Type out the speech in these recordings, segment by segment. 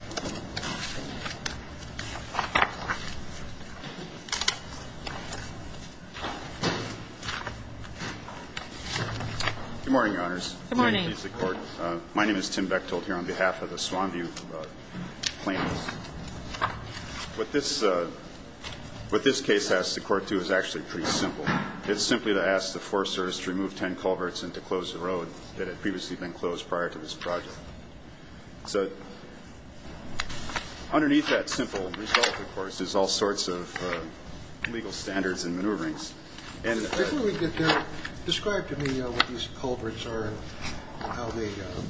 Good morning, Your Honors. Good morning. My name is Tim Bechtold here on behalf of the Swan View plaintiffs. What this case asks the Court to is actually pretty simple. It's simply to ask the Forest Service to remove ten culverts and to close the road that had previously been closed prior to this project. Underneath that simple result, of course, is all sorts of legal standards and maneuverings. I thought we could describe to me what these culverts are and how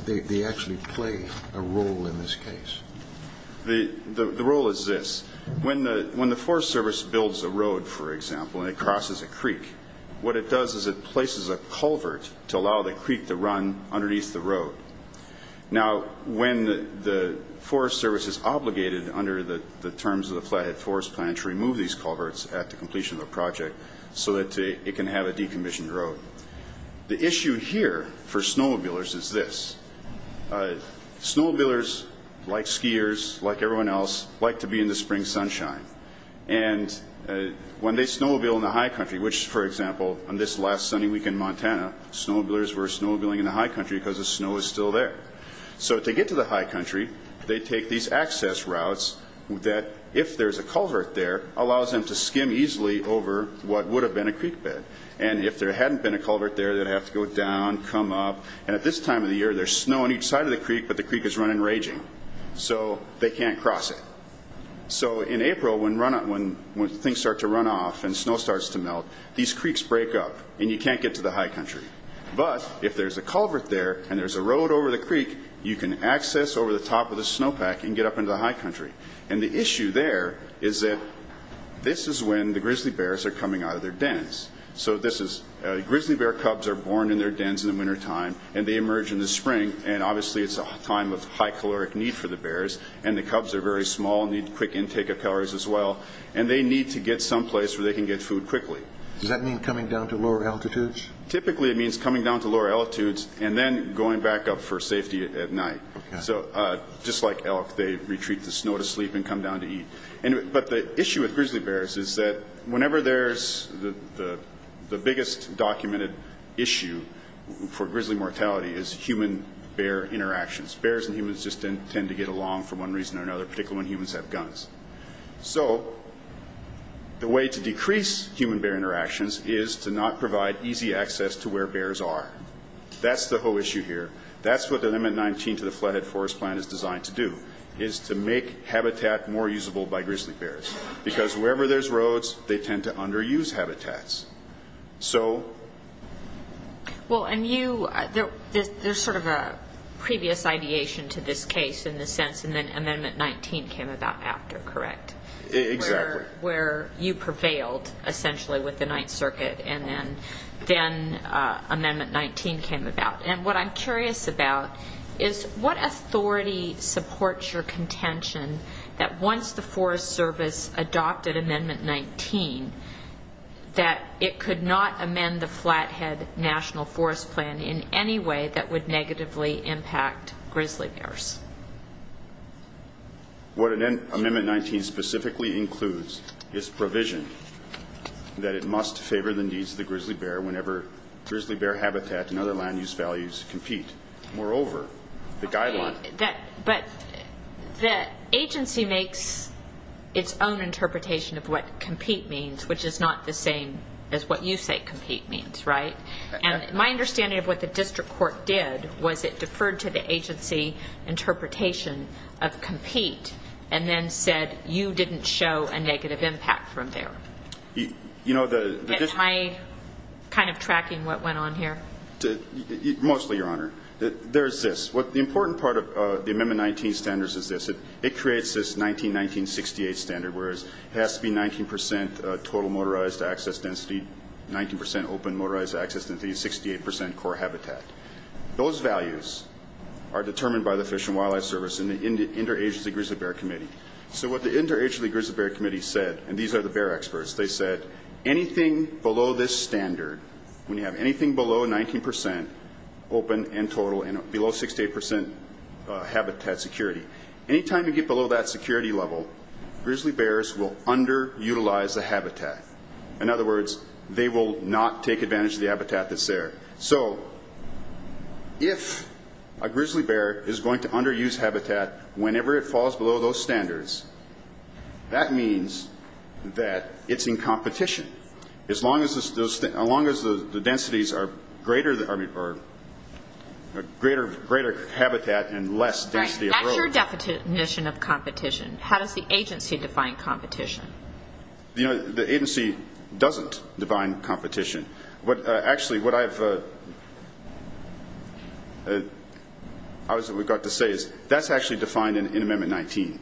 they actually play a role in this case. The role is this. When the Forest Service builds a road, for example, and it crosses a creek, what it does is it places a culvert to allow the creek to run underneath the road. Now, when the Forest Service is obligated under the terms of the Flathead Forest Plan to remove these culverts at the completion of the project so that it can have a decommissioned road. The issue here for snowmobilers is this. Snowmobilers, like skiers, like everyone else, like to be in the spring sunshine. And when they snowmobile in the high country, which, for example, on this last sunny week in Montana, snowmobilers were in the high country because the snow was still there. So to get to the high country, they take these access routes that, if there's a culvert there, allows them to skim easily over what would have been a creek bed. And if there hadn't been a culvert there, they'd have to go down, come up. And at this time of the year, there's snow on each side of the creek, but the creek is running raging. So they can't cross it. So in April, when things start to run off and snow starts to melt, these creeks break up and you can't get to the high country. But if there's a culvert there and there's a road over the creek, you can access over the top of the snowpack and get up into the high country. And the issue there is that this is when the grizzly bears are coming out of their dens. So grizzly bear cubs are born in their dens in the wintertime and they emerge in the spring. And obviously, it's a time of high caloric need for the bears. And the cubs are very small and need quick intake of calories as well. And they need to get someplace where they can get food quickly. Does that mean coming down to lower altitudes? Typically, it means coming down to lower altitudes and then going back up for safety at night. So just like elk, they retreat the snow to sleep and come down to eat. But the issue with grizzly bears is that whenever there's the biggest documented issue for grizzly mortality is human-bear interactions. Bears and humans just tend to get along for one reason or another, particularly when humans have guns. So the way to decrease human-bear interactions is to not provide easy access to where bears are. That's the whole issue here. That's what the Amendment 19 to the Flathead Forest Plan is designed to do, is to make habitat more usable by grizzly bears. Because wherever there's roads, they tend to underuse habitats. So... Well, and you, there's sort of a previous ideation to this case in the sense, and then Amendment 19 came about after, correct? Exactly. Where you prevailed, essentially, with the Ninth Circuit, and then Amendment 19 came about. And what I'm curious about is what authority supports your contention that once the Forest Service adopted Amendment 19, that it could not amend the Flathead National Forest Plan in any way that would negatively impact grizzly bears. What Amendment 19 specifically includes is provision that it must favor the needs of the grizzly bear whenever grizzly bear habitat and other land-use values compete. Moreover, the guideline... But the agency makes its own interpretation of what compete means, which is not the same as what you say compete means, right? And my understanding of what the district court did was it deferred to the agency interpretation of compete and then said you didn't show a negative impact from there. You know, the... Am I kind of tracking what went on here? Mostly, Your Honor. There's this. The important part of the Amendment 19 standards is this. It creates this 19-19-68 standard, whereas it has to be 19% total motorized access density, 19% open motorized access density, 68% core habitat. Those values are determined by the Fish and Wildlife Service and the Interagency Grizzly Bear Committee. So what the Interagency Grizzly Bear Committee said, and these are the bear experts, they said anything below this standard, when you have anything below 19% open and total and below 68% habitat security, any time you get below that security level, grizzly bears will underutilize the habitat. In other words, they will not take advantage of the habitat that's there. So if a grizzly bear is going to underuse habitat whenever it falls below those standards, that means that it's in competition. As long as the densities are greater habitat and less density of growth. That's your definition of competition. How does the agency define competition? The agency doesn't define competition. Actually, what I've got to say is that's actually defined in Amendment 19.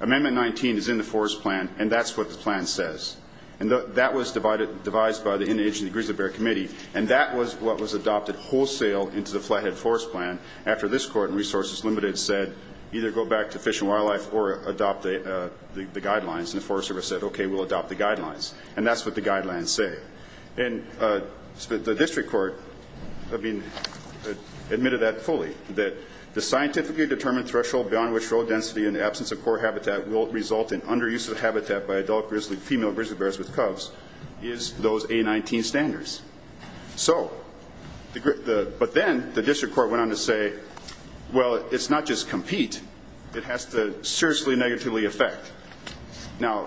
Amendment 19 is in the Forest Plan, and that's what the plan says. And that was devised by the Interagency Grizzly Bear Committee, and that was what was adopted wholesale into the Flathead Forest Plan after this court in Resources Limited said either go back to Fish and Wildlife or adopt the guidelines. And the Forest Service said, okay, we'll adopt the guidelines. And that's what the guidelines say. And the district court admitted that fully, that the scientifically determined threshold beyond which road density in the absence of core habitat will result in underuse of habitat by adult female grizzly bears with cubs is those A19 standards. But then the district court went on to say, well, it's not just compete. It has to seriously negatively affect. Now,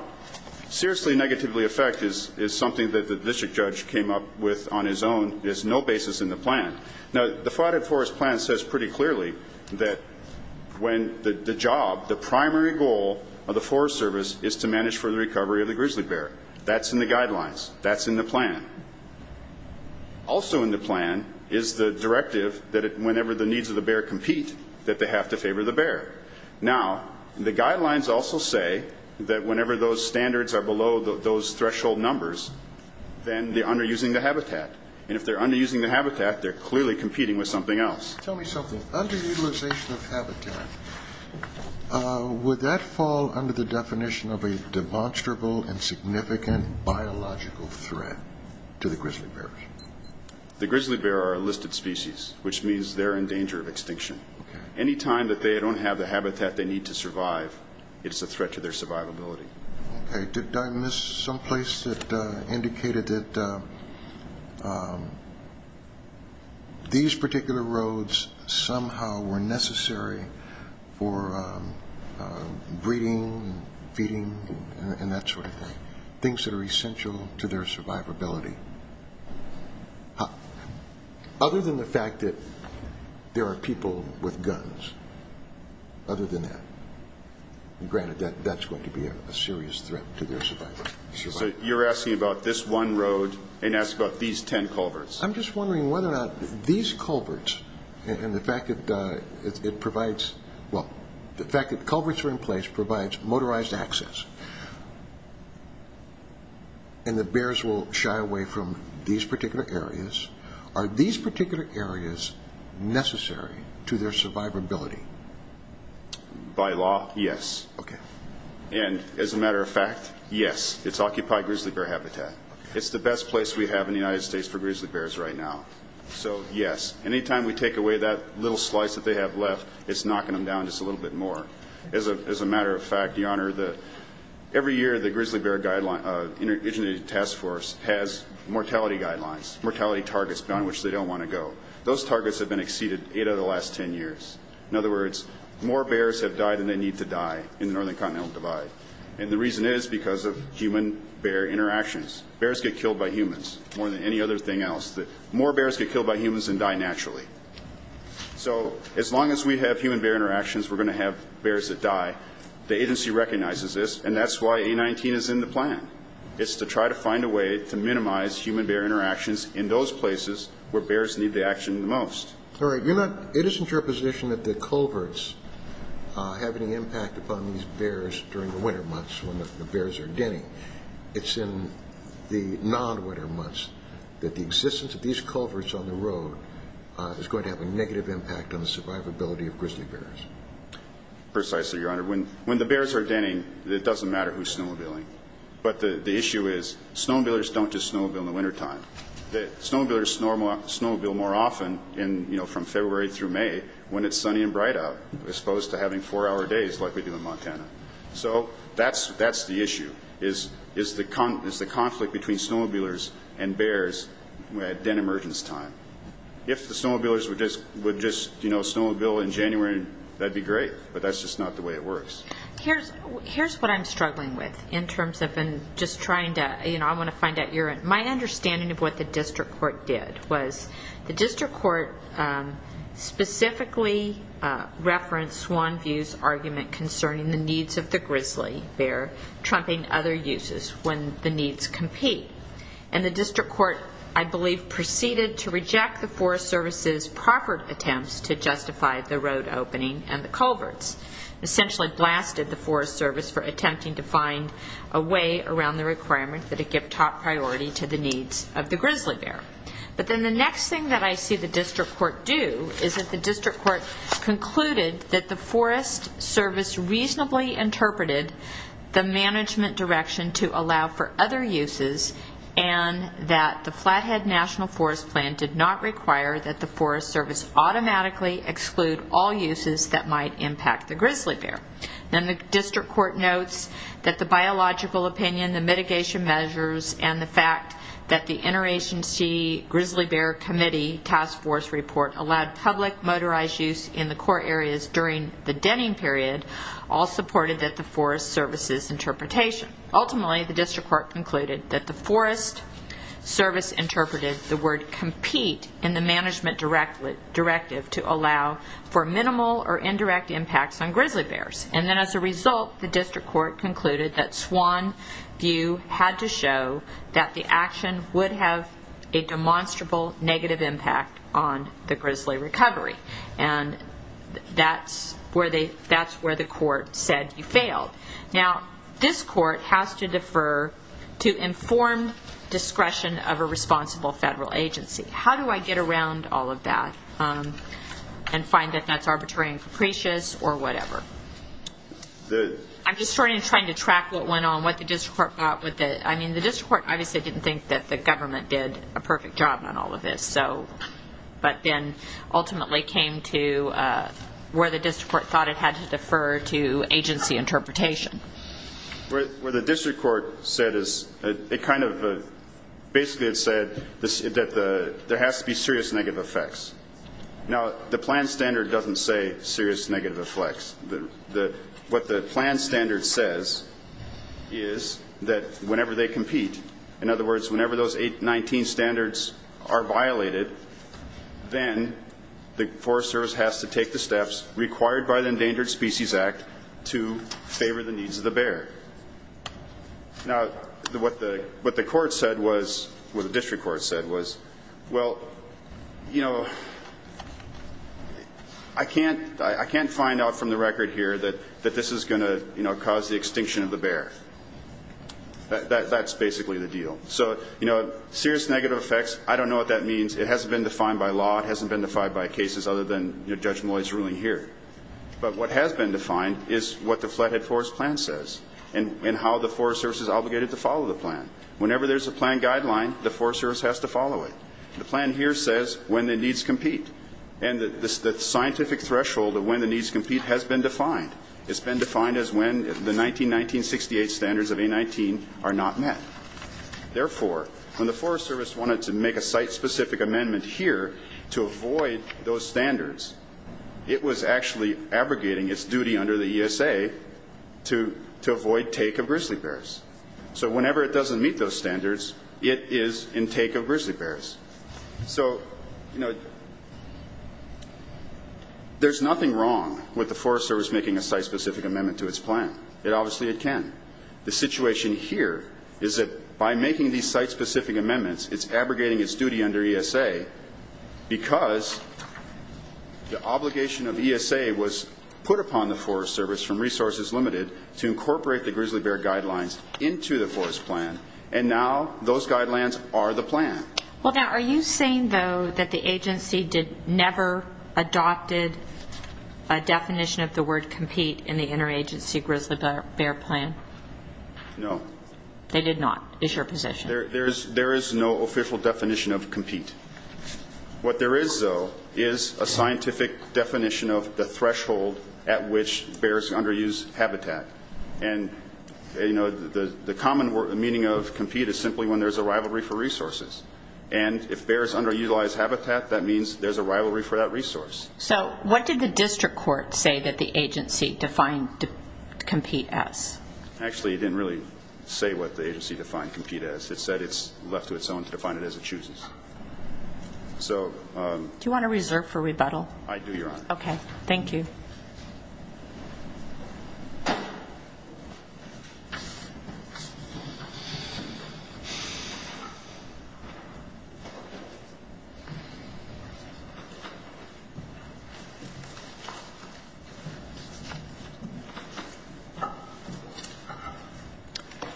seriously negatively affect is something that the district judge came up with on his own. There's no basis in the plan. Now, the Flathead Forest Plan says pretty clearly that when the job, the primary goal of the Forest Service is to manage for the recovery of the grizzly bear. That's in the guidelines. That's in the plan. Also in the plan is the directive that whenever the needs of the bear compete, that they have to favor the bear. Now, the guidelines also say that whenever those standards are below those threshold numbers, then they're underusing the habitat. And if they're underusing the habitat, they're clearly competing with something else. Tell me something. Underutilization of habitat, would that fall under the definition of a demonstrable and significant biological threat to the grizzly bears? The grizzly bear are a listed species, which means they're in danger of extinction. Any time that they don't have the habitat they need to survive, it's a threat to their survivability. Okay. Did I miss someplace that indicated that these particular roads somehow were necessary for breeding, feeding, and that sort of thing, things that are essential to their survivability? Other than the fact that there are people with guns, other than that. Granted, that's going to be a serious threat to their survivability. So you're asking about this one road and asking about these ten culverts. I'm just wondering whether or not these culverts and the fact that it provides, well, the fact that culverts are in place provides motorized access and the bears will shy away from these particular areas. Are these particular areas necessary to their survivability? By law, yes. Okay. And as a matter of fact, yes. It's occupied grizzly bear habitat. It's the best place we have in the United States for grizzly bears right now. So, yes. Any time we take away that little slice that they have left, it's knocking them down just a little bit more. As a matter of fact, Your Honor, every year the Grizzly Bear Interdict Task Force has mortality guidelines, mortality targets on which they don't want to go. Those targets have been exceeded eight out of the last ten years. In other words, more bears have died than they need to die in the Northern Continental Divide. And the reason is because of human-bear interactions. Bears get killed by humans more than any other thing else. More bears get killed by humans than die naturally. So as long as we have human-bear interactions, we're going to have bears that die. The agency recognizes this, and that's why A19 is in the plan. It's to try to find a way to minimize human-bear interactions in those places where bears need the action the most. All right. It isn't your position that the culverts have any impact upon these bears during the winter months when the bears are denning. It's in the non-winter months that the existence of these culverts on the road is going to have a negative impact on the survivability of grizzly bears. Precisely, Your Honor. When the bears are denning, it doesn't matter who's snowmobiling. But the issue is snowmobilers don't just snowmobile in the wintertime. Snowmobilers snowmobile more often from February through May when it's sunny and bright out, as opposed to having four-hour days like we do in Montana. So that's the issue, is the conflict between snowmobilers and bears at den emergence time. If the snowmobilers would just snowmobile in January, that'd be great, but that's just not the way it works. Here's what I'm struggling with in terms of just trying to, you know, I want to find out your, my understanding of what the district court did was the district court specifically referenced Swanview's argument concerning the needs of the grizzly bear trumping other uses when the needs compete. And the district court, I believe, proceeded to reject the Forest Service's proffered attempts to justify the road opening and the culverts. Essentially blasted the Forest Service for attempting to find a way around the requirement that it give top priority to the needs of the grizzly bear. But then the next thing that I see the district court do is that the district court concluded that the Forest Service reasonably interpreted the management direction to allow for other uses and that the Flathead National Forest Plan did not require that the Forest Service automatically exclude all uses that might impact the grizzly bear. Then the district court notes that the biological opinion, the mitigation measures, and the fact that the interagency grizzly bear committee task force report allowed public motorized use in the core areas during the denning period all supported that the Forest Service's interpretation. Ultimately, the district court concluded that the Forest Service interpreted the word compete in the management directive to allow for minimal or indirect impacts on grizzly bears. And then as a result, the district court concluded that Swan View had to show that the action would have a demonstrable negative impact on the grizzly recovery. And that's where the court said you failed. Now, this court has to defer to informed discretion of a responsible federal agency. How do I get around all of that and find that that's arbitrary and capricious or whatever? I'm just trying to track what went on, what the district court thought. I mean, the district court obviously didn't think that the government did a perfect job on all of this, but then ultimately came to where the district court thought it had to defer to agency interpretation. What the district court said is it kind of basically said that there has to be serious negative effects. Now, the plan standard doesn't say serious negative effects. What the plan standard says is that whenever they compete, in other words, whenever those 819 standards are violated, then the Forest Service has to take the steps required by the Endangered Species Act to favor the needs of the bear. Now, what the district court said was, well, you know, I can't find out from the record here that this is going to cause the extinction of the bear. That's basically the deal. So, you know, serious negative effects, I don't know what that means. It hasn't been defined by law. It hasn't been defined by cases other than Judge Malloy's ruling here. But what has been defined is what the Flathead Forest Plan says and how the Forest Service is obligated to follow the plan. Whenever there's a plan guideline, the Forest Service has to follow it. The plan here says when the needs compete. And the scientific threshold of when the needs compete has been defined. It's been defined as when the 1919-68 standards of 819 are not met. Therefore, when the Forest Service wanted to make a site-specific amendment here to avoid those standards, it was actually abrogating its duty under the ESA to avoid take of grizzly bears. So whenever it doesn't meet those standards, it is in take of grizzly bears. So, you know, there's nothing wrong with the Forest Service making a site-specific amendment to its plan. Obviously it can. The situation here is that by making these site-specific amendments, it's abrogating its duty under ESA because the obligation of ESA was put upon the Forest Service from Resources Limited to incorporate the grizzly bear guidelines into the Forest Plan. And now those guidelines are the plan. Well, now, are you saying, though, that the agency never adopted a definition of the word compete in the interagency grizzly bear plan? No. They did not? Is your position? There is no official definition of compete. What there is, though, is a scientific definition of the threshold at which bears underuse habitat. And, you know, the common meaning of compete is simply when there's a rivalry for resources. And if bears underutilize habitat, that means there's a rivalry for that resource. So what did the district court say that the agency defined compete as? Actually, it didn't really say what the agency defined compete as. It said it's left to its own to define it as it chooses. Do you want to reserve for rebuttal? I do, Your Honor. Okay. Good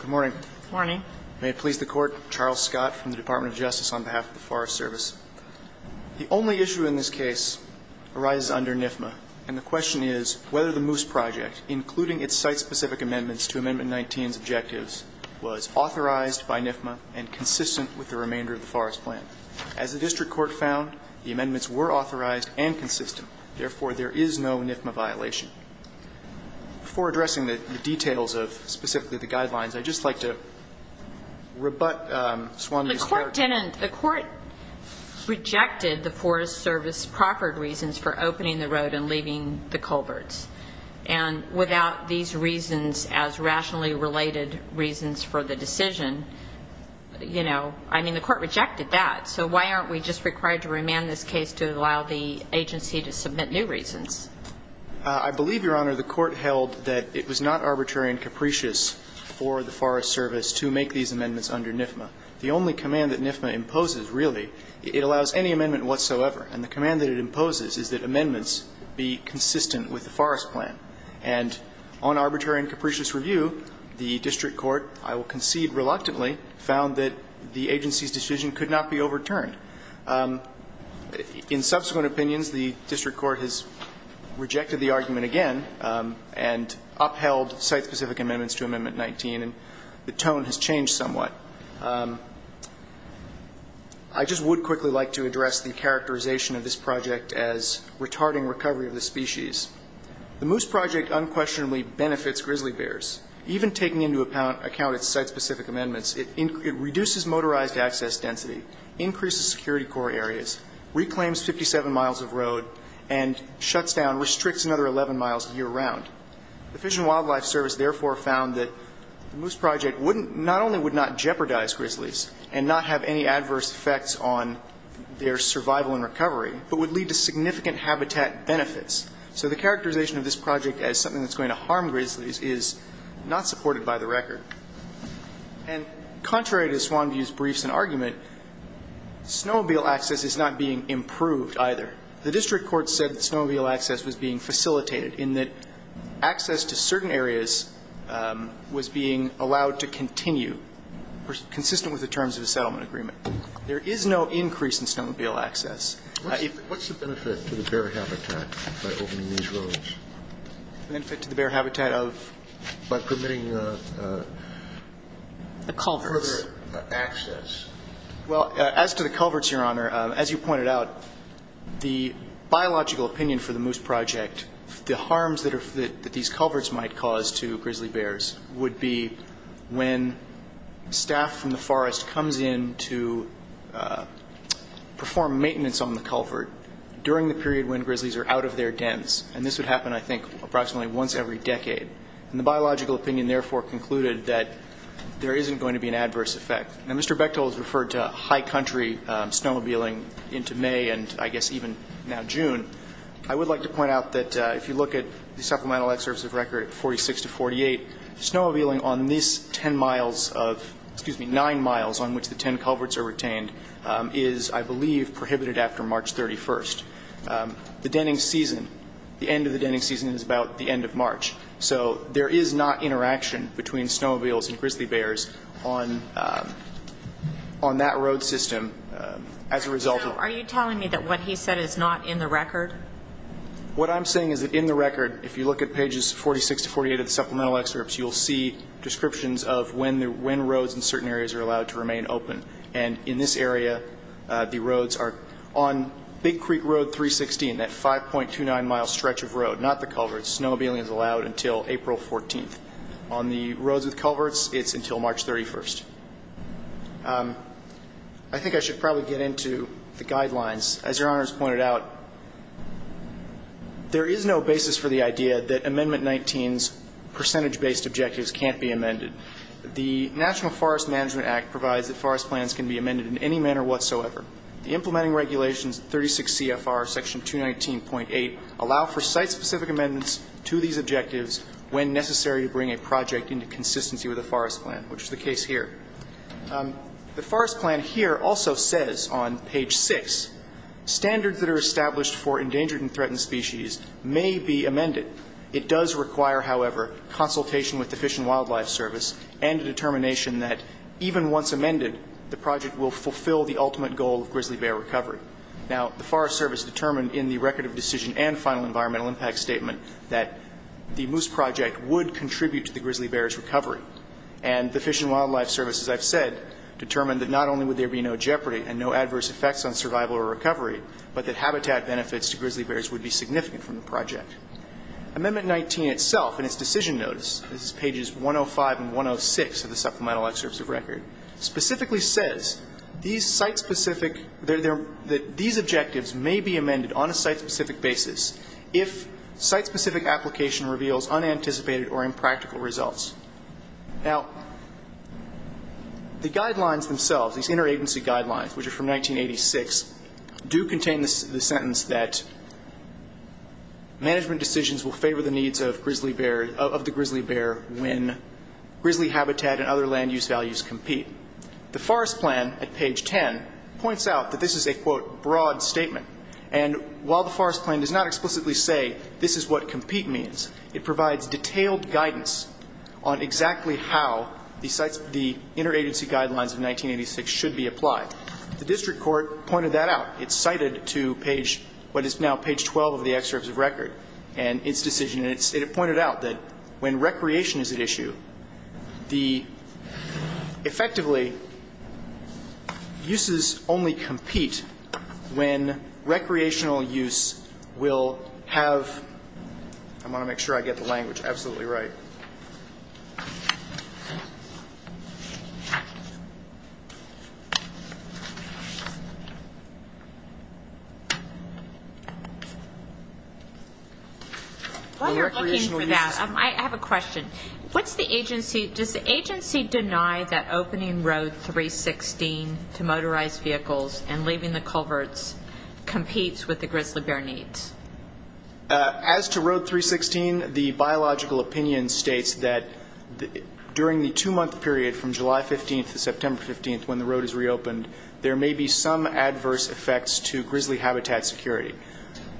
morning. Good morning. May it please the Court, Charles Scott from the Department of Justice on behalf of the Forest Service. The only issue in this case arises under NFMA. And the question is whether the Moose Project, including its site-specific amendments to Amendment 19's objectives, was authorized by NFMA and consistent with the remainder of the Forest Plan. As the district court found, the amendments were authorized and consistent. Therefore, there is no NFMA violation. Before addressing the details of specifically the guidelines, I'd just like to rebut Swanlee's charge. The court rejected the Forest Service proffered reasons for opening the road and leaving the culverts. And without these reasons as rationally related reasons for the decision, you know, I mean, the court rejected that. So why aren't we just required to remand this case to allow the agency to submit new reasons? I believe, Your Honor, the court held that it was not arbitrary and capricious for the Forest Service to make these amendments under NFMA. The only command that NFMA imposes, really, it allows any amendment whatsoever. And the command that it imposes is that amendments be consistent with the Forest Plan. And on arbitrary and capricious review, the district court, I will concede reluctantly, found that the agency's decision could not be overturned. In subsequent opinions, the district court has rejected the argument again and upheld site-specific amendments to Amendment 19. And the tone has changed somewhat. I just would quickly like to address the characterization of this project as retarding recovery of the species. The Moose Project unquestionably benefits grizzly bears. Even taking into account its site-specific amendments, it reduces motorized access density, increases security core areas, reclaims 57 miles of road, and shuts down, restricts another 11 miles year-round. The Fish and Wildlife Service, therefore, found that the Moose Project wouldn't not only would not jeopardize grizzlies and not have any adverse effects on their survival and recovery, but would lead to significant habitat benefits. So the characterization of this project as something that's going to harm grizzlies is not supported by the record. And contrary to Swanview's briefs and argument, snowmobile access is not being improved either. The district court said that snowmobile access was being facilitated in that access to certain areas was being allowed to continue, consistent with the terms of the settlement agreement. There is no increase in snowmobile access. What's the benefit to the bear habitat by opening these roads? Benefit to the bear habitat of? By permitting the culverts. Further access. Well, as to the culverts, Your Honor, as you pointed out, the biological opinion for the Moose Project, the harms that these culverts might cause to grizzly bears would be when staff from the forest comes in to perform maintenance on the culvert during the period when grizzlies are out of their dens. And this would happen, I think, approximately once every decade. And the biological opinion therefore concluded that there isn't going to be an adverse effect. Now, Mr. Bechtol has referred to high country snowmobiling into May and I guess even now June. I would like to point out that if you look at the supplemental excerpts of record 46 to 48, snowmobiling on this ten miles of, excuse me, nine miles on which the ten culverts are retained is, I believe, prohibited after March 31st. The denning season, the end of the denning season is about the end of March. So there is not interaction between snowmobiles and grizzly bears on that road system as a result of. So are you telling me that what he said is not in the record? What I'm saying is that in the record, if you look at pages 46 to 48 of the supplemental excerpts, you'll see descriptions of when roads in certain areas are allowed to remain open. And in this area, the roads are on Big Creek Road 316, that 5.29-mile stretch of road, not the culverts. Snowmobiling is allowed until April 14th. On the roads with culverts, it's until March 31st. I think I should probably get into the guidelines. As Your Honor has pointed out, there is no basis for the idea that Amendment 19's percentage-based objectives can't be amended. The National Forest Management Act provides that forest plans can be amended in any manner whatsoever. The implementing regulations, 36 CFR section 219.8, allow for site-specific amendments to these objectives when necessary to bring a project into consistency with a forest plan, which is the case here. The forest plan here also says on page 6, standards that are established for endangered and threatened species may be amended. It does require, however, consultation with the Fish and Wildlife Service and a determination that even once amended, the project will fulfill the ultimate goal of grizzly bear recovery. Now, the Forest Service determined in the Record of Decision and Final Environmental Impact Statement that the moose project would contribute to the grizzly bear's recovery. And the Fish and Wildlife Service, as I've said, determined that not only would there be no jeopardy and no adverse effects on survival or recovery, but that habitat benefits to grizzly bears would be significant from the project. Amendment 19 itself in its decision notice, pages 105 and 106 of the Supplemental Excerpts of Record, specifically says these site-specific, that these objectives may be amended on a site-specific basis if site-specific application reveals unanticipated or impractical results. Now, the guidelines themselves, these interagency guidelines, which are from 1986, do contain the sentence that management decisions will favor the needs of grizzly bear, of the grizzly bear when grizzly habitat and other land use values compete. The Forest Plan at page 10 points out that this is a, quote, broad statement. And while the Forest Plan does not explicitly say this is what compete means, it does point out on exactly how the interagency guidelines of 1986 should be applied. The district court pointed that out. It cited to page, what is now page 12 of the Excerpts of Record and its decision. And it pointed out that when recreation is at issue, the effectively uses only compete when recreational use will have, I want to make sure I get the language absolutely right. While you're looking for that, I have a question. What's the agency, does the agency deny that opening Road 316 to motorized vehicles and leaving the culverts competes with the grizzly bear needs? As to Road 316, the biological opinion states that during the two-month period from July 15th to September 15th when the road is reopened, there may be some adverse effects to grizzly habitat security.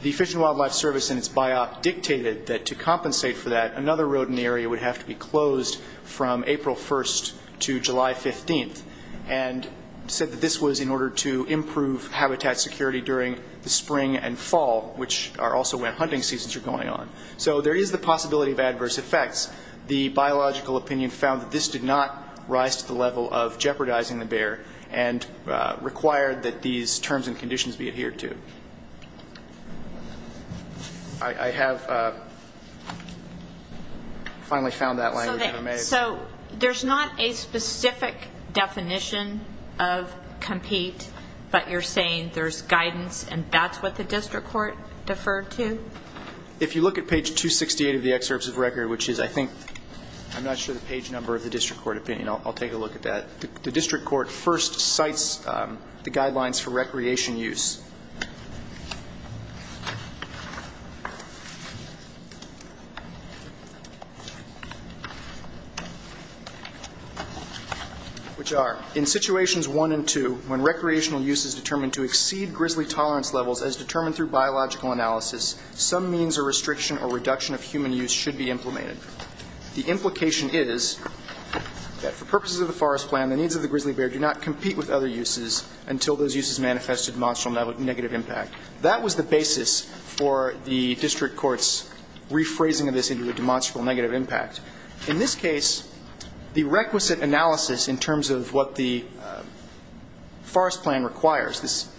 The Fish and Wildlife Service in its biop dictated that to compensate for that, another road in the area would have to be closed from April 1st to July 15th, and said that this was in order to improve habitat security during the spring and fall, which are also when hunting seasons are going on. So there is the possibility of adverse effects. The biological opinion found that this did not rise to the level of jeopardizing the bear and required that these terms and conditions be adhered to. I have finally found that language. So there's not a specific definition of compete, but you're saying there's guidance and that's what the district court deferred to? If you look at page 268 of the excerpts of record, which is I think, I'm not sure the page number of the district court opinion. I'll take a look at that. The district court first cites the guidelines for recreation use. Which are, in situations one and two, when recreational use is determined to exceed grizzly tolerance levels as determined through biological analysis, some means or restriction or reduction of human use should be implemented. The implication is that for purposes of the forest plan, the needs of the grizzly bear do not compete with other uses until those uses manifest a demonstrable negative impact. That was the basis for the district court's rephrasing of this into a demonstrable negative impact. In this case, the requisite analysis in terms of what the forest plan requires,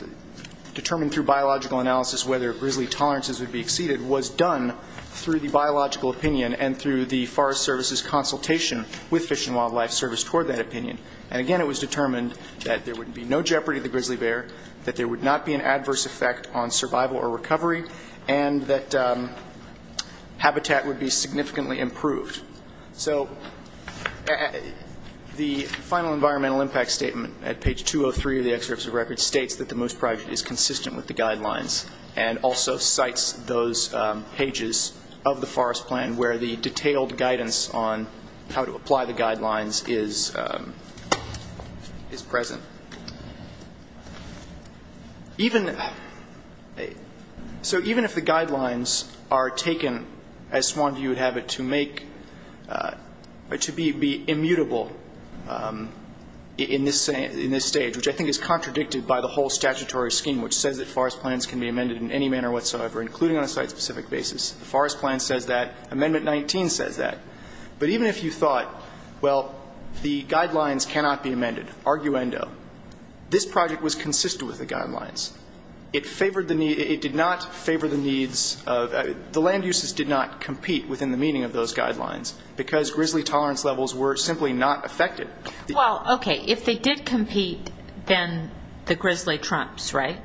determined through biological analysis whether grizzly tolerances would be exceeded, was done through the biological opinion and through the forest service's consultation with Fish and Wildlife Service toward that opinion. And again, it was determined that there would be no jeopardy to the grizzly bear, that there would not be an adverse effect on survival or recovery, and that habitat would be significantly improved. So the final environmental impact statement at page 203 of the excerpts of record states that the moose project is consistent with the guidelines and also cites those pages of the forest plan where the detailed guidance on how to apply the guidelines is present. Even so, even if the guidelines are taken, as Swanview would have it, to make, to be amended in any manner whatsoever, including on a site-specific basis, the forest plan says that. Amendment 19 says that. But even if you thought, well, the guidelines cannot be amended, arguendo, this project was consistent with the guidelines. It favored the need to, it did not favor the needs of, the land uses did not compete within the meaning of those guidelines, because grizzly tolerance levels were simply not affected. Well, okay, if they did compete, then the grizzly trumps, right?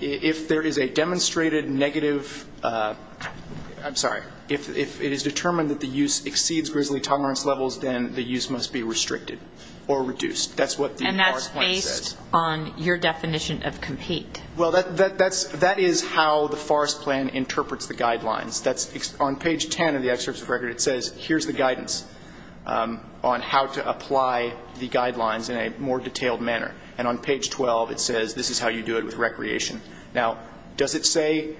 If there is a demonstrated negative, I'm sorry, if it is determined that the use exceeds grizzly tolerance levels, then the use must be restricted or reduced. That's what the forest plan says. And that's based on your definition of compete. Well, that is how the forest plan interprets the guidelines. On page 10 of the excerpt of the record, it says, here's the guidance on how to apply the guidelines in a more detailed manner. And on page 12, it says, this is how you do it with recreation. Now, does it say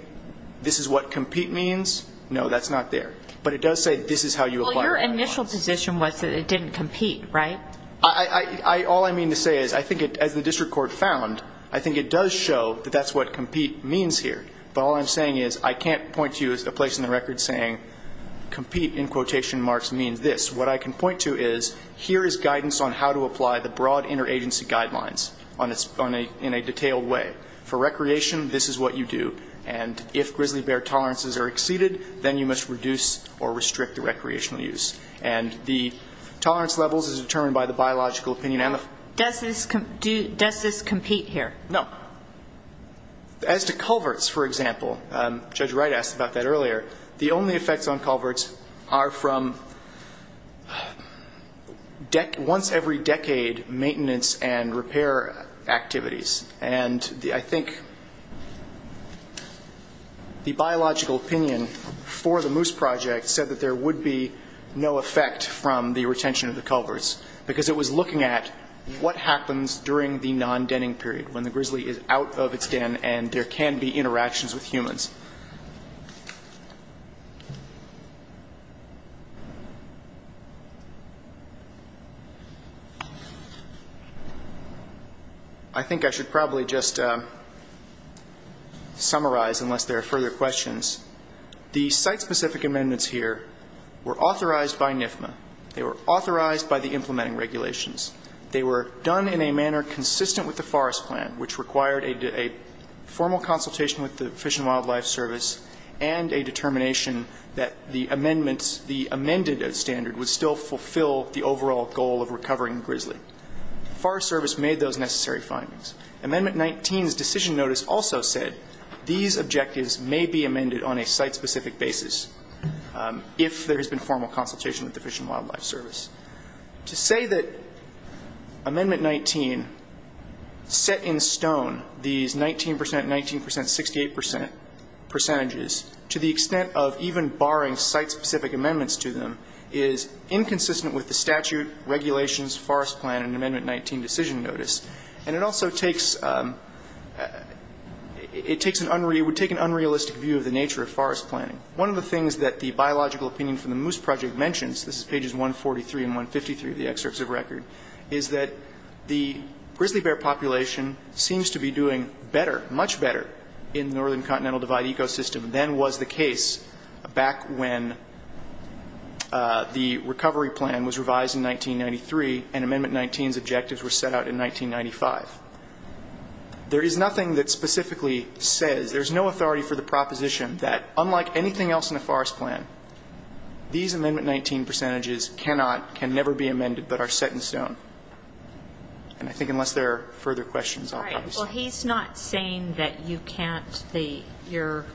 this is what compete means? No, that's not there. But it does say this is how you apply the guidelines. Well, your initial position was that it didn't compete, right? All I mean to say is, I think as the district court found, I think it does show that that's what compete means here. But all I'm saying is, I can't point to you a place in the record saying compete, in quotation marks, means this. What I can point to is, here is guidance on how to apply the broad interagency guidelines in a detailed way. For recreation, this is what you do. And if grizzly bear tolerances are exceeded, then you must reduce or restrict the recreational use. And the tolerance levels is determined by the biological opinion and the ---- Does this compete here? No. Now, as to culverts, for example, Judge Wright asked about that earlier, the only effects on culverts are from once every decade maintenance and repair activities. And I think the biological opinion for the Moose Project said that there would be no effect from the retention of the culverts, because it was looking at what happens during the non-denning period, when the grizzly is out of its den and there can be interactions with humans. I think I should probably just summarize, unless there are further questions. The site-specific amendments here were authorized by NIFMA. They were authorized by the implementing regulations. They were done in a manner consistent with the Forest Plan, which required a formal consultation with the Fish and Wildlife Service and a determination that the amendments the amended standard would still fulfill the overall goal of recovering grizzly. Forest Service made those necessary findings. Amendment 19's decision notice also said these objectives may be amended on a site-specific basis, if there has been formal consultation with the Fish and Wildlife Service. To say that Amendment 19 set in stone these 19 percent, 19 percent, 68 percent percentages to the extent of even barring site-specific amendments to them is inconsistent with the statute, regulations, Forest Plan, and Amendment 19 decision notice. And it also takes an unrealistic view of the nature of forest planning. One of the things that the biological opinion from the Moose Project mentions, this is pages 143 and 153 of the excerpts of record, is that the grizzly bear population seems to be doing better, much better, in the Northern Continental Divide ecosystem than was the case back when the recovery plan was revised in 1993 and Amendment 19's objectives were set out in 1995. There is nothing that specifically says, there's no authority for the proposition that unlike anything else in a forest plan, these Amendment 19 percentages cannot, can never be amended, but are set in stone. And I think unless there are further questions, I'll pause. All right. Well, he's not saying that you can't, your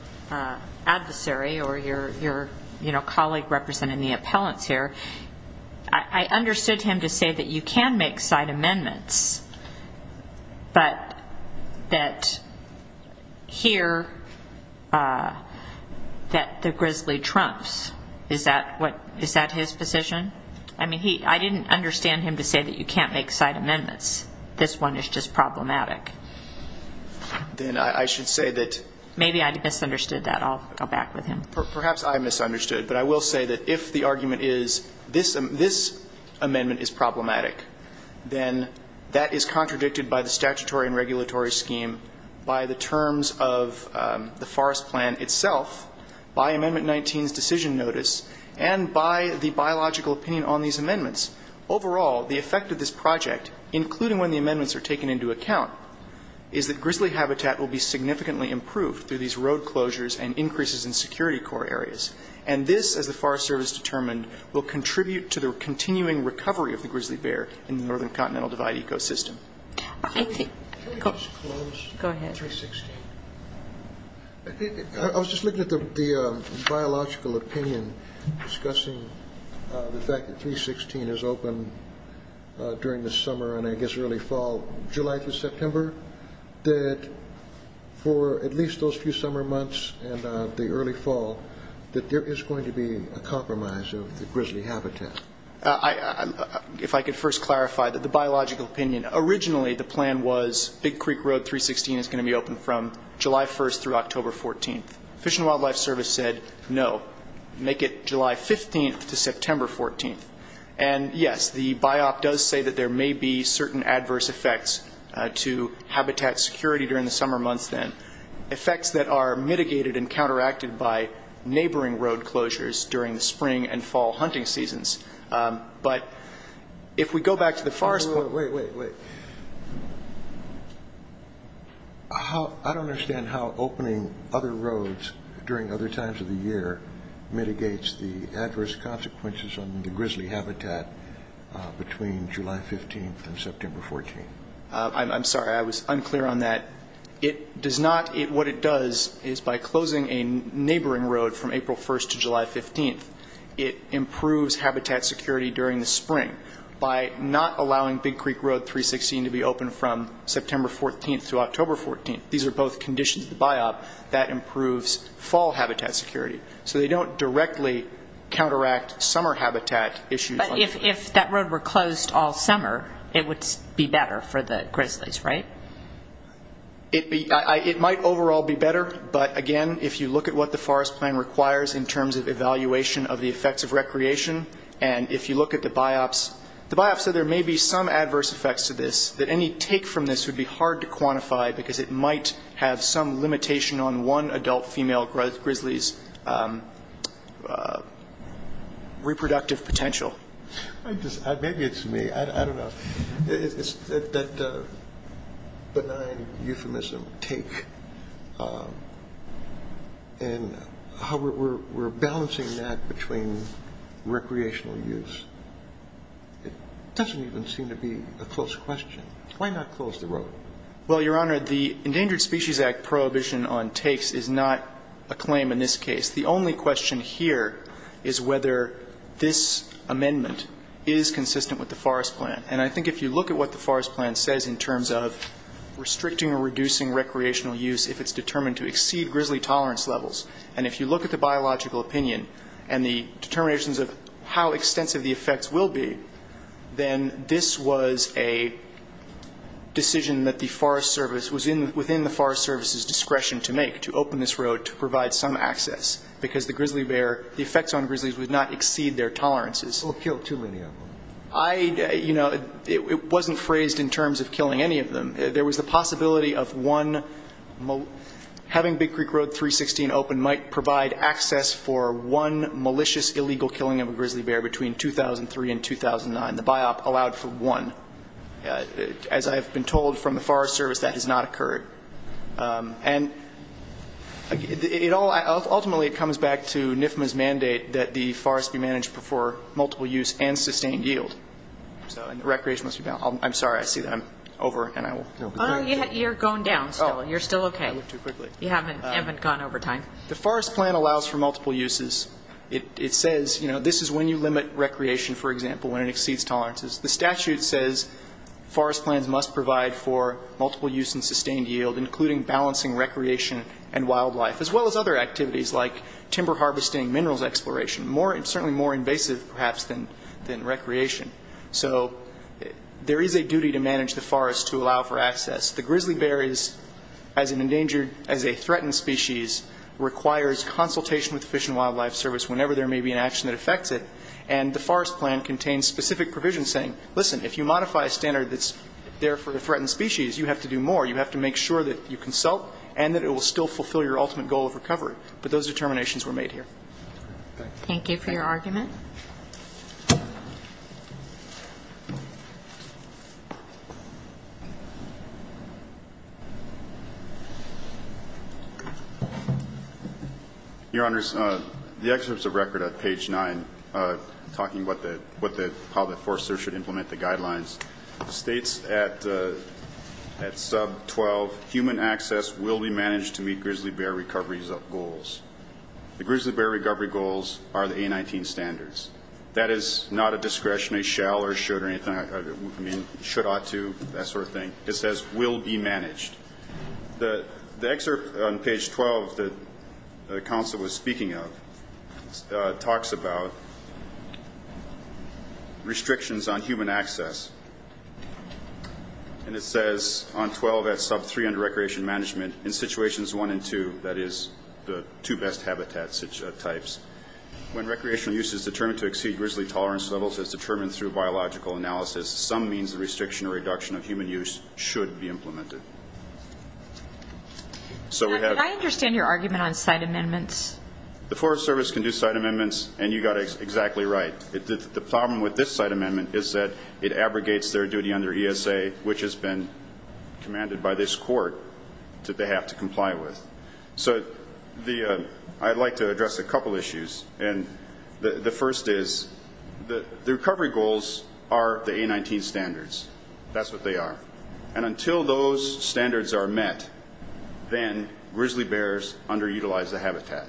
adversary or your, you know, colleague representing the appellants here, I understood him to say that you can make site amendments, but that here, that the grizzly trumps. Is that what, is that his position? I mean, I didn't understand him to say that you can't make site amendments. This one is just problematic. Then I should say that. Maybe I misunderstood that. I'll go back with him. Perhaps I misunderstood. But I will say that if the argument is this, this amendment is problematic, then that is contradicted by the statutory and regulatory scheme, by the terms of the forest plan itself, by Amendment 19's decision notice, and by the biological opinion on these amendments. Overall, the effect of this project, including when the amendments are taken into account, is that grizzly habitat will be significantly improved through these road closures and increases in security core areas. And this, as the Forest Service determined, will contribute to the continuing recovery of the grizzly bear in the Northern Continental Divide ecosystem. Can I just close on 316? Go ahead. I was just looking at the biological opinion discussing the fact that 316 is open during the summer and, I guess, early fall, July through September, that for at least a few summer months and the early fall, that there is going to be a compromise of the grizzly habitat. If I could first clarify that the biological opinion, originally the plan was Big Creek Road 316 is going to be open from July 1st through October 14th. Fish and Wildlife Service said no, make it July 15th to September 14th. And, yes, the BIOP does say that there may be certain adverse effects to habitat security during the summer months then, effects that are mitigated and counteracted by neighboring road closures during the spring and fall hunting seasons. But if we go back to the forest point. Wait, wait, wait. I don't understand how opening other roads during other times of the year mitigates the adverse consequences on the grizzly habitat between July 15th and September 14th. I'm sorry, I was unclear on that. It does not, what it does is by closing a neighboring road from April 1st to July 15th, it improves habitat security during the spring by not allowing Big Creek Road 316 to be open from September 14th through October 14th. These are both conditions of the BIOP that improves fall habitat security. So they don't directly counteract summer habitat issues. But if that road were closed all summer, it would be better for the grizzlies, right? It might overall be better, but, again, if you look at what the forest plan requires in terms of evaluation of the effects of recreation, and if you look at the BIOPS, the BIOPS said there may be some adverse effects to this, that any take from this would be hard to quantify because it might have some limitation on one adult female grizzly's reproductive potential. Maybe it's me. I don't know. That benign euphemism, take, and how we're balancing that between recreational use, it doesn't even seem to be a close question. Why not close the road? Well, Your Honor, the Endangered Species Act prohibition on takes is not a claim in this case. The only question here is whether this amendment is consistent with the forest plan. And I think if you look at what the forest plan says in terms of restricting or reducing recreational use if it's determined to exceed grizzly tolerance levels, and if you look at the biological opinion and the determinations of how extensive the effects will be, then this was a decision that the Forest Service was within the Forest Service's discretion to make, to open this road to provide some access because the grizzly bear, the effects on grizzlies would not exceed their tolerances. Or kill too many of them. I, you know, it wasn't phrased in terms of killing any of them. There was the possibility of one, having Big Creek Road 316 open might provide access for one malicious, illegal killing of a grizzly bear between 2003 and 2009. The BIOP allowed for one. As I have been told from the Forest Service, that has not occurred. And ultimately it comes back to NIFMA's mandate that the forest be managed for multiple use and sustained yield. So recreation must be balanced. I'm sorry. I see that I'm over and I will go. You're going down still. You're still okay. I moved too quickly. You haven't gone over time. The forest plan allows for multiple uses. It says, you know, this is when you limit recreation, for example, when it exceeds tolerances. The statute says forest plans must provide for multiple use and sustained yield, including balancing recreation and wildlife, as well as other activities like timber harvesting, minerals exploration, certainly more invasive perhaps than recreation. So there is a duty to manage the forest to allow for access. The grizzly bear is, as an endangered, as a threatened species, requires consultation with the Fish and Wildlife Service whenever there may be an action that affects it. And the forest plan contains specific provisions saying, listen, if you modify a standard that's there for a threatened species, you have to do more. You have to make sure that you consult and that it will still fulfill your ultimate goal of recovery. But those determinations were made here. Thank you for your argument. Thank you. Your Honors, the excerpt is a record at page 9, talking about how the forester should implement the guidelines. It states at sub-12, human access will be managed to meet grizzly bear recovery goals. The grizzly bear recovery goals are the A19 standards. That is not a discretionary shall or should or anything. I mean, should, ought to, that sort of thing. It says will be managed. The excerpt on page 12 that the counsel was speaking of talks about restrictions on human access. And it says on 12 at sub-3 under recreation management, in situations 1 and 2, that is the two best habitat types, when recreational use is determined to exceed grizzly tolerance levels as determined through biological analysis, some means of restriction or reduction of human use should be implemented. So we have to. I understand your argument on site amendments. The Forest Service can do site amendments, and you got it exactly right. The problem with this site amendment is that it abrogates their duty under ESA, which has been commanded by this court that they have to comply with. So I'd like to address a couple issues. And the first is the recovery goals are the A19 standards. That's what they are. And until those standards are met, then grizzly bears underutilize the habitat.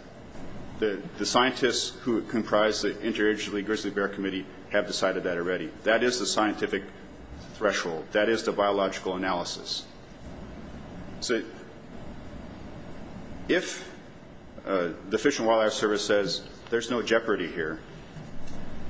The scientists who comprise the Interagency Grizzly Bear Committee have decided that already. That is the scientific threshold. That is the biological analysis. So if the Fish and Wildlife Service says there's no jeopardy here,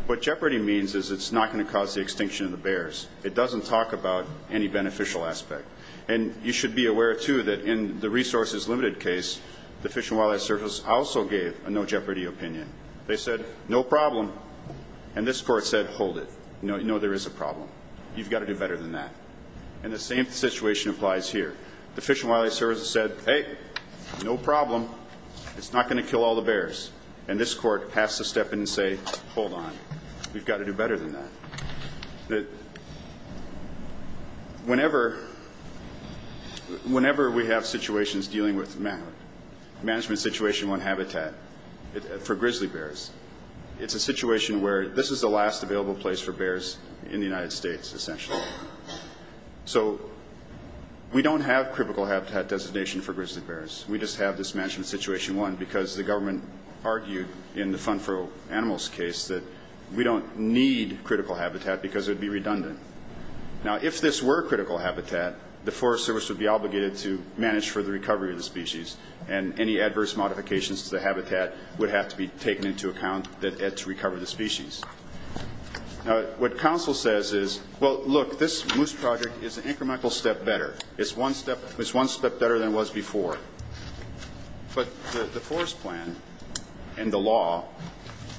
what jeopardy means is it's not going to cause the extinction of the bears. It doesn't talk about any beneficial aspect. And you should be aware, too, that in the resources limited case, the Fish and Wildlife Service also gave a no jeopardy opinion. They said no problem. And this court said hold it. No, there is a problem. You've got to do better than that. And the same situation applies here. The Fish and Wildlife Service said, hey, no problem. It's not going to kill all the bears. And this court has to step in and say, hold on. We've got to do better than that. Whenever we have situations dealing with management situation one habitat for grizzly bears, it's a situation where this is the last available place for bears in the United States, essentially. So we don't have critical habitat designation for grizzly bears. We just have this management situation one because the government argued in the Fun For Animals case that we don't need critical habitat because it would be redundant. Now, if this were critical habitat, the Forest Service would be obligated to manage for the recovery of the species, and any adverse modifications to the habitat would have to be taken into account to recover the species. Now, what counsel says is, well, look, this moose project is an incremental step better. It's one step better than it was before. But the forest plan and the law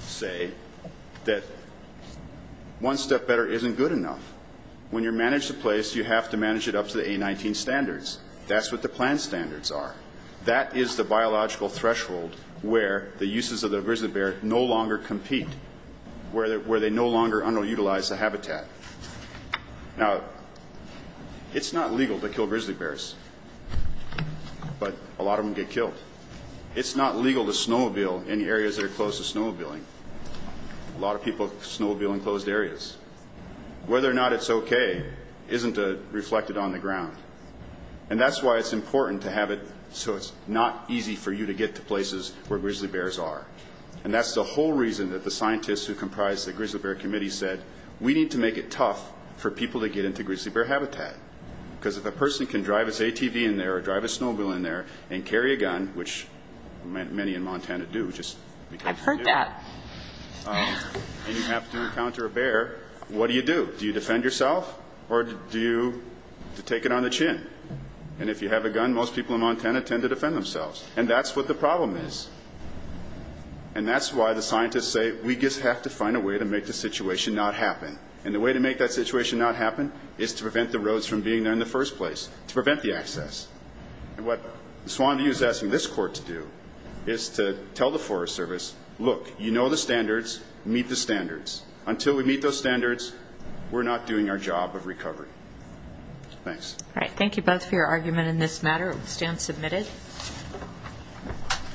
say that one step better isn't good enough. When you manage the place, you have to manage it up to the A19 standards. That's what the plan standards are. That is the biological threshold where the uses of the grizzly bear no longer compete, where they no longer underutilize the habitat. Now, it's not legal to kill grizzly bears, but a lot of them get killed. It's not legal to snowmobile in areas that are closed to snowmobiling. A lot of people snowmobile in closed areas. Whether or not it's okay isn't reflected on the ground. And that's why it's important to have it so it's not easy for you to get to places where grizzly bears are. And that's the whole reason that the scientists who comprise the grizzly bear committee said, we need to make it tough for people to get into grizzly bear habitat, because if a person can drive his ATV in there or drive his snowmobile in there and carry a gun, which many in Montana do just because they do. I've heard that. And you have to encounter a bear. What do you do? Do you defend yourself, or do you take it on the chin? And if you have a gun, most people in Montana tend to defend themselves. And that's what the problem is. And that's why the scientists say, we just have to find a way to make the situation not happen. And the way to make that situation not happen is to prevent the roads from being there in the first place, to prevent the access. And what Swanview is asking this court to do is to tell the Forest Service, look, you know the standards, meet the standards. Until we meet those standards, we're not doing our job of recovery. Thanks. All right. Thank you both for your argument in this matter. It will stand submitted.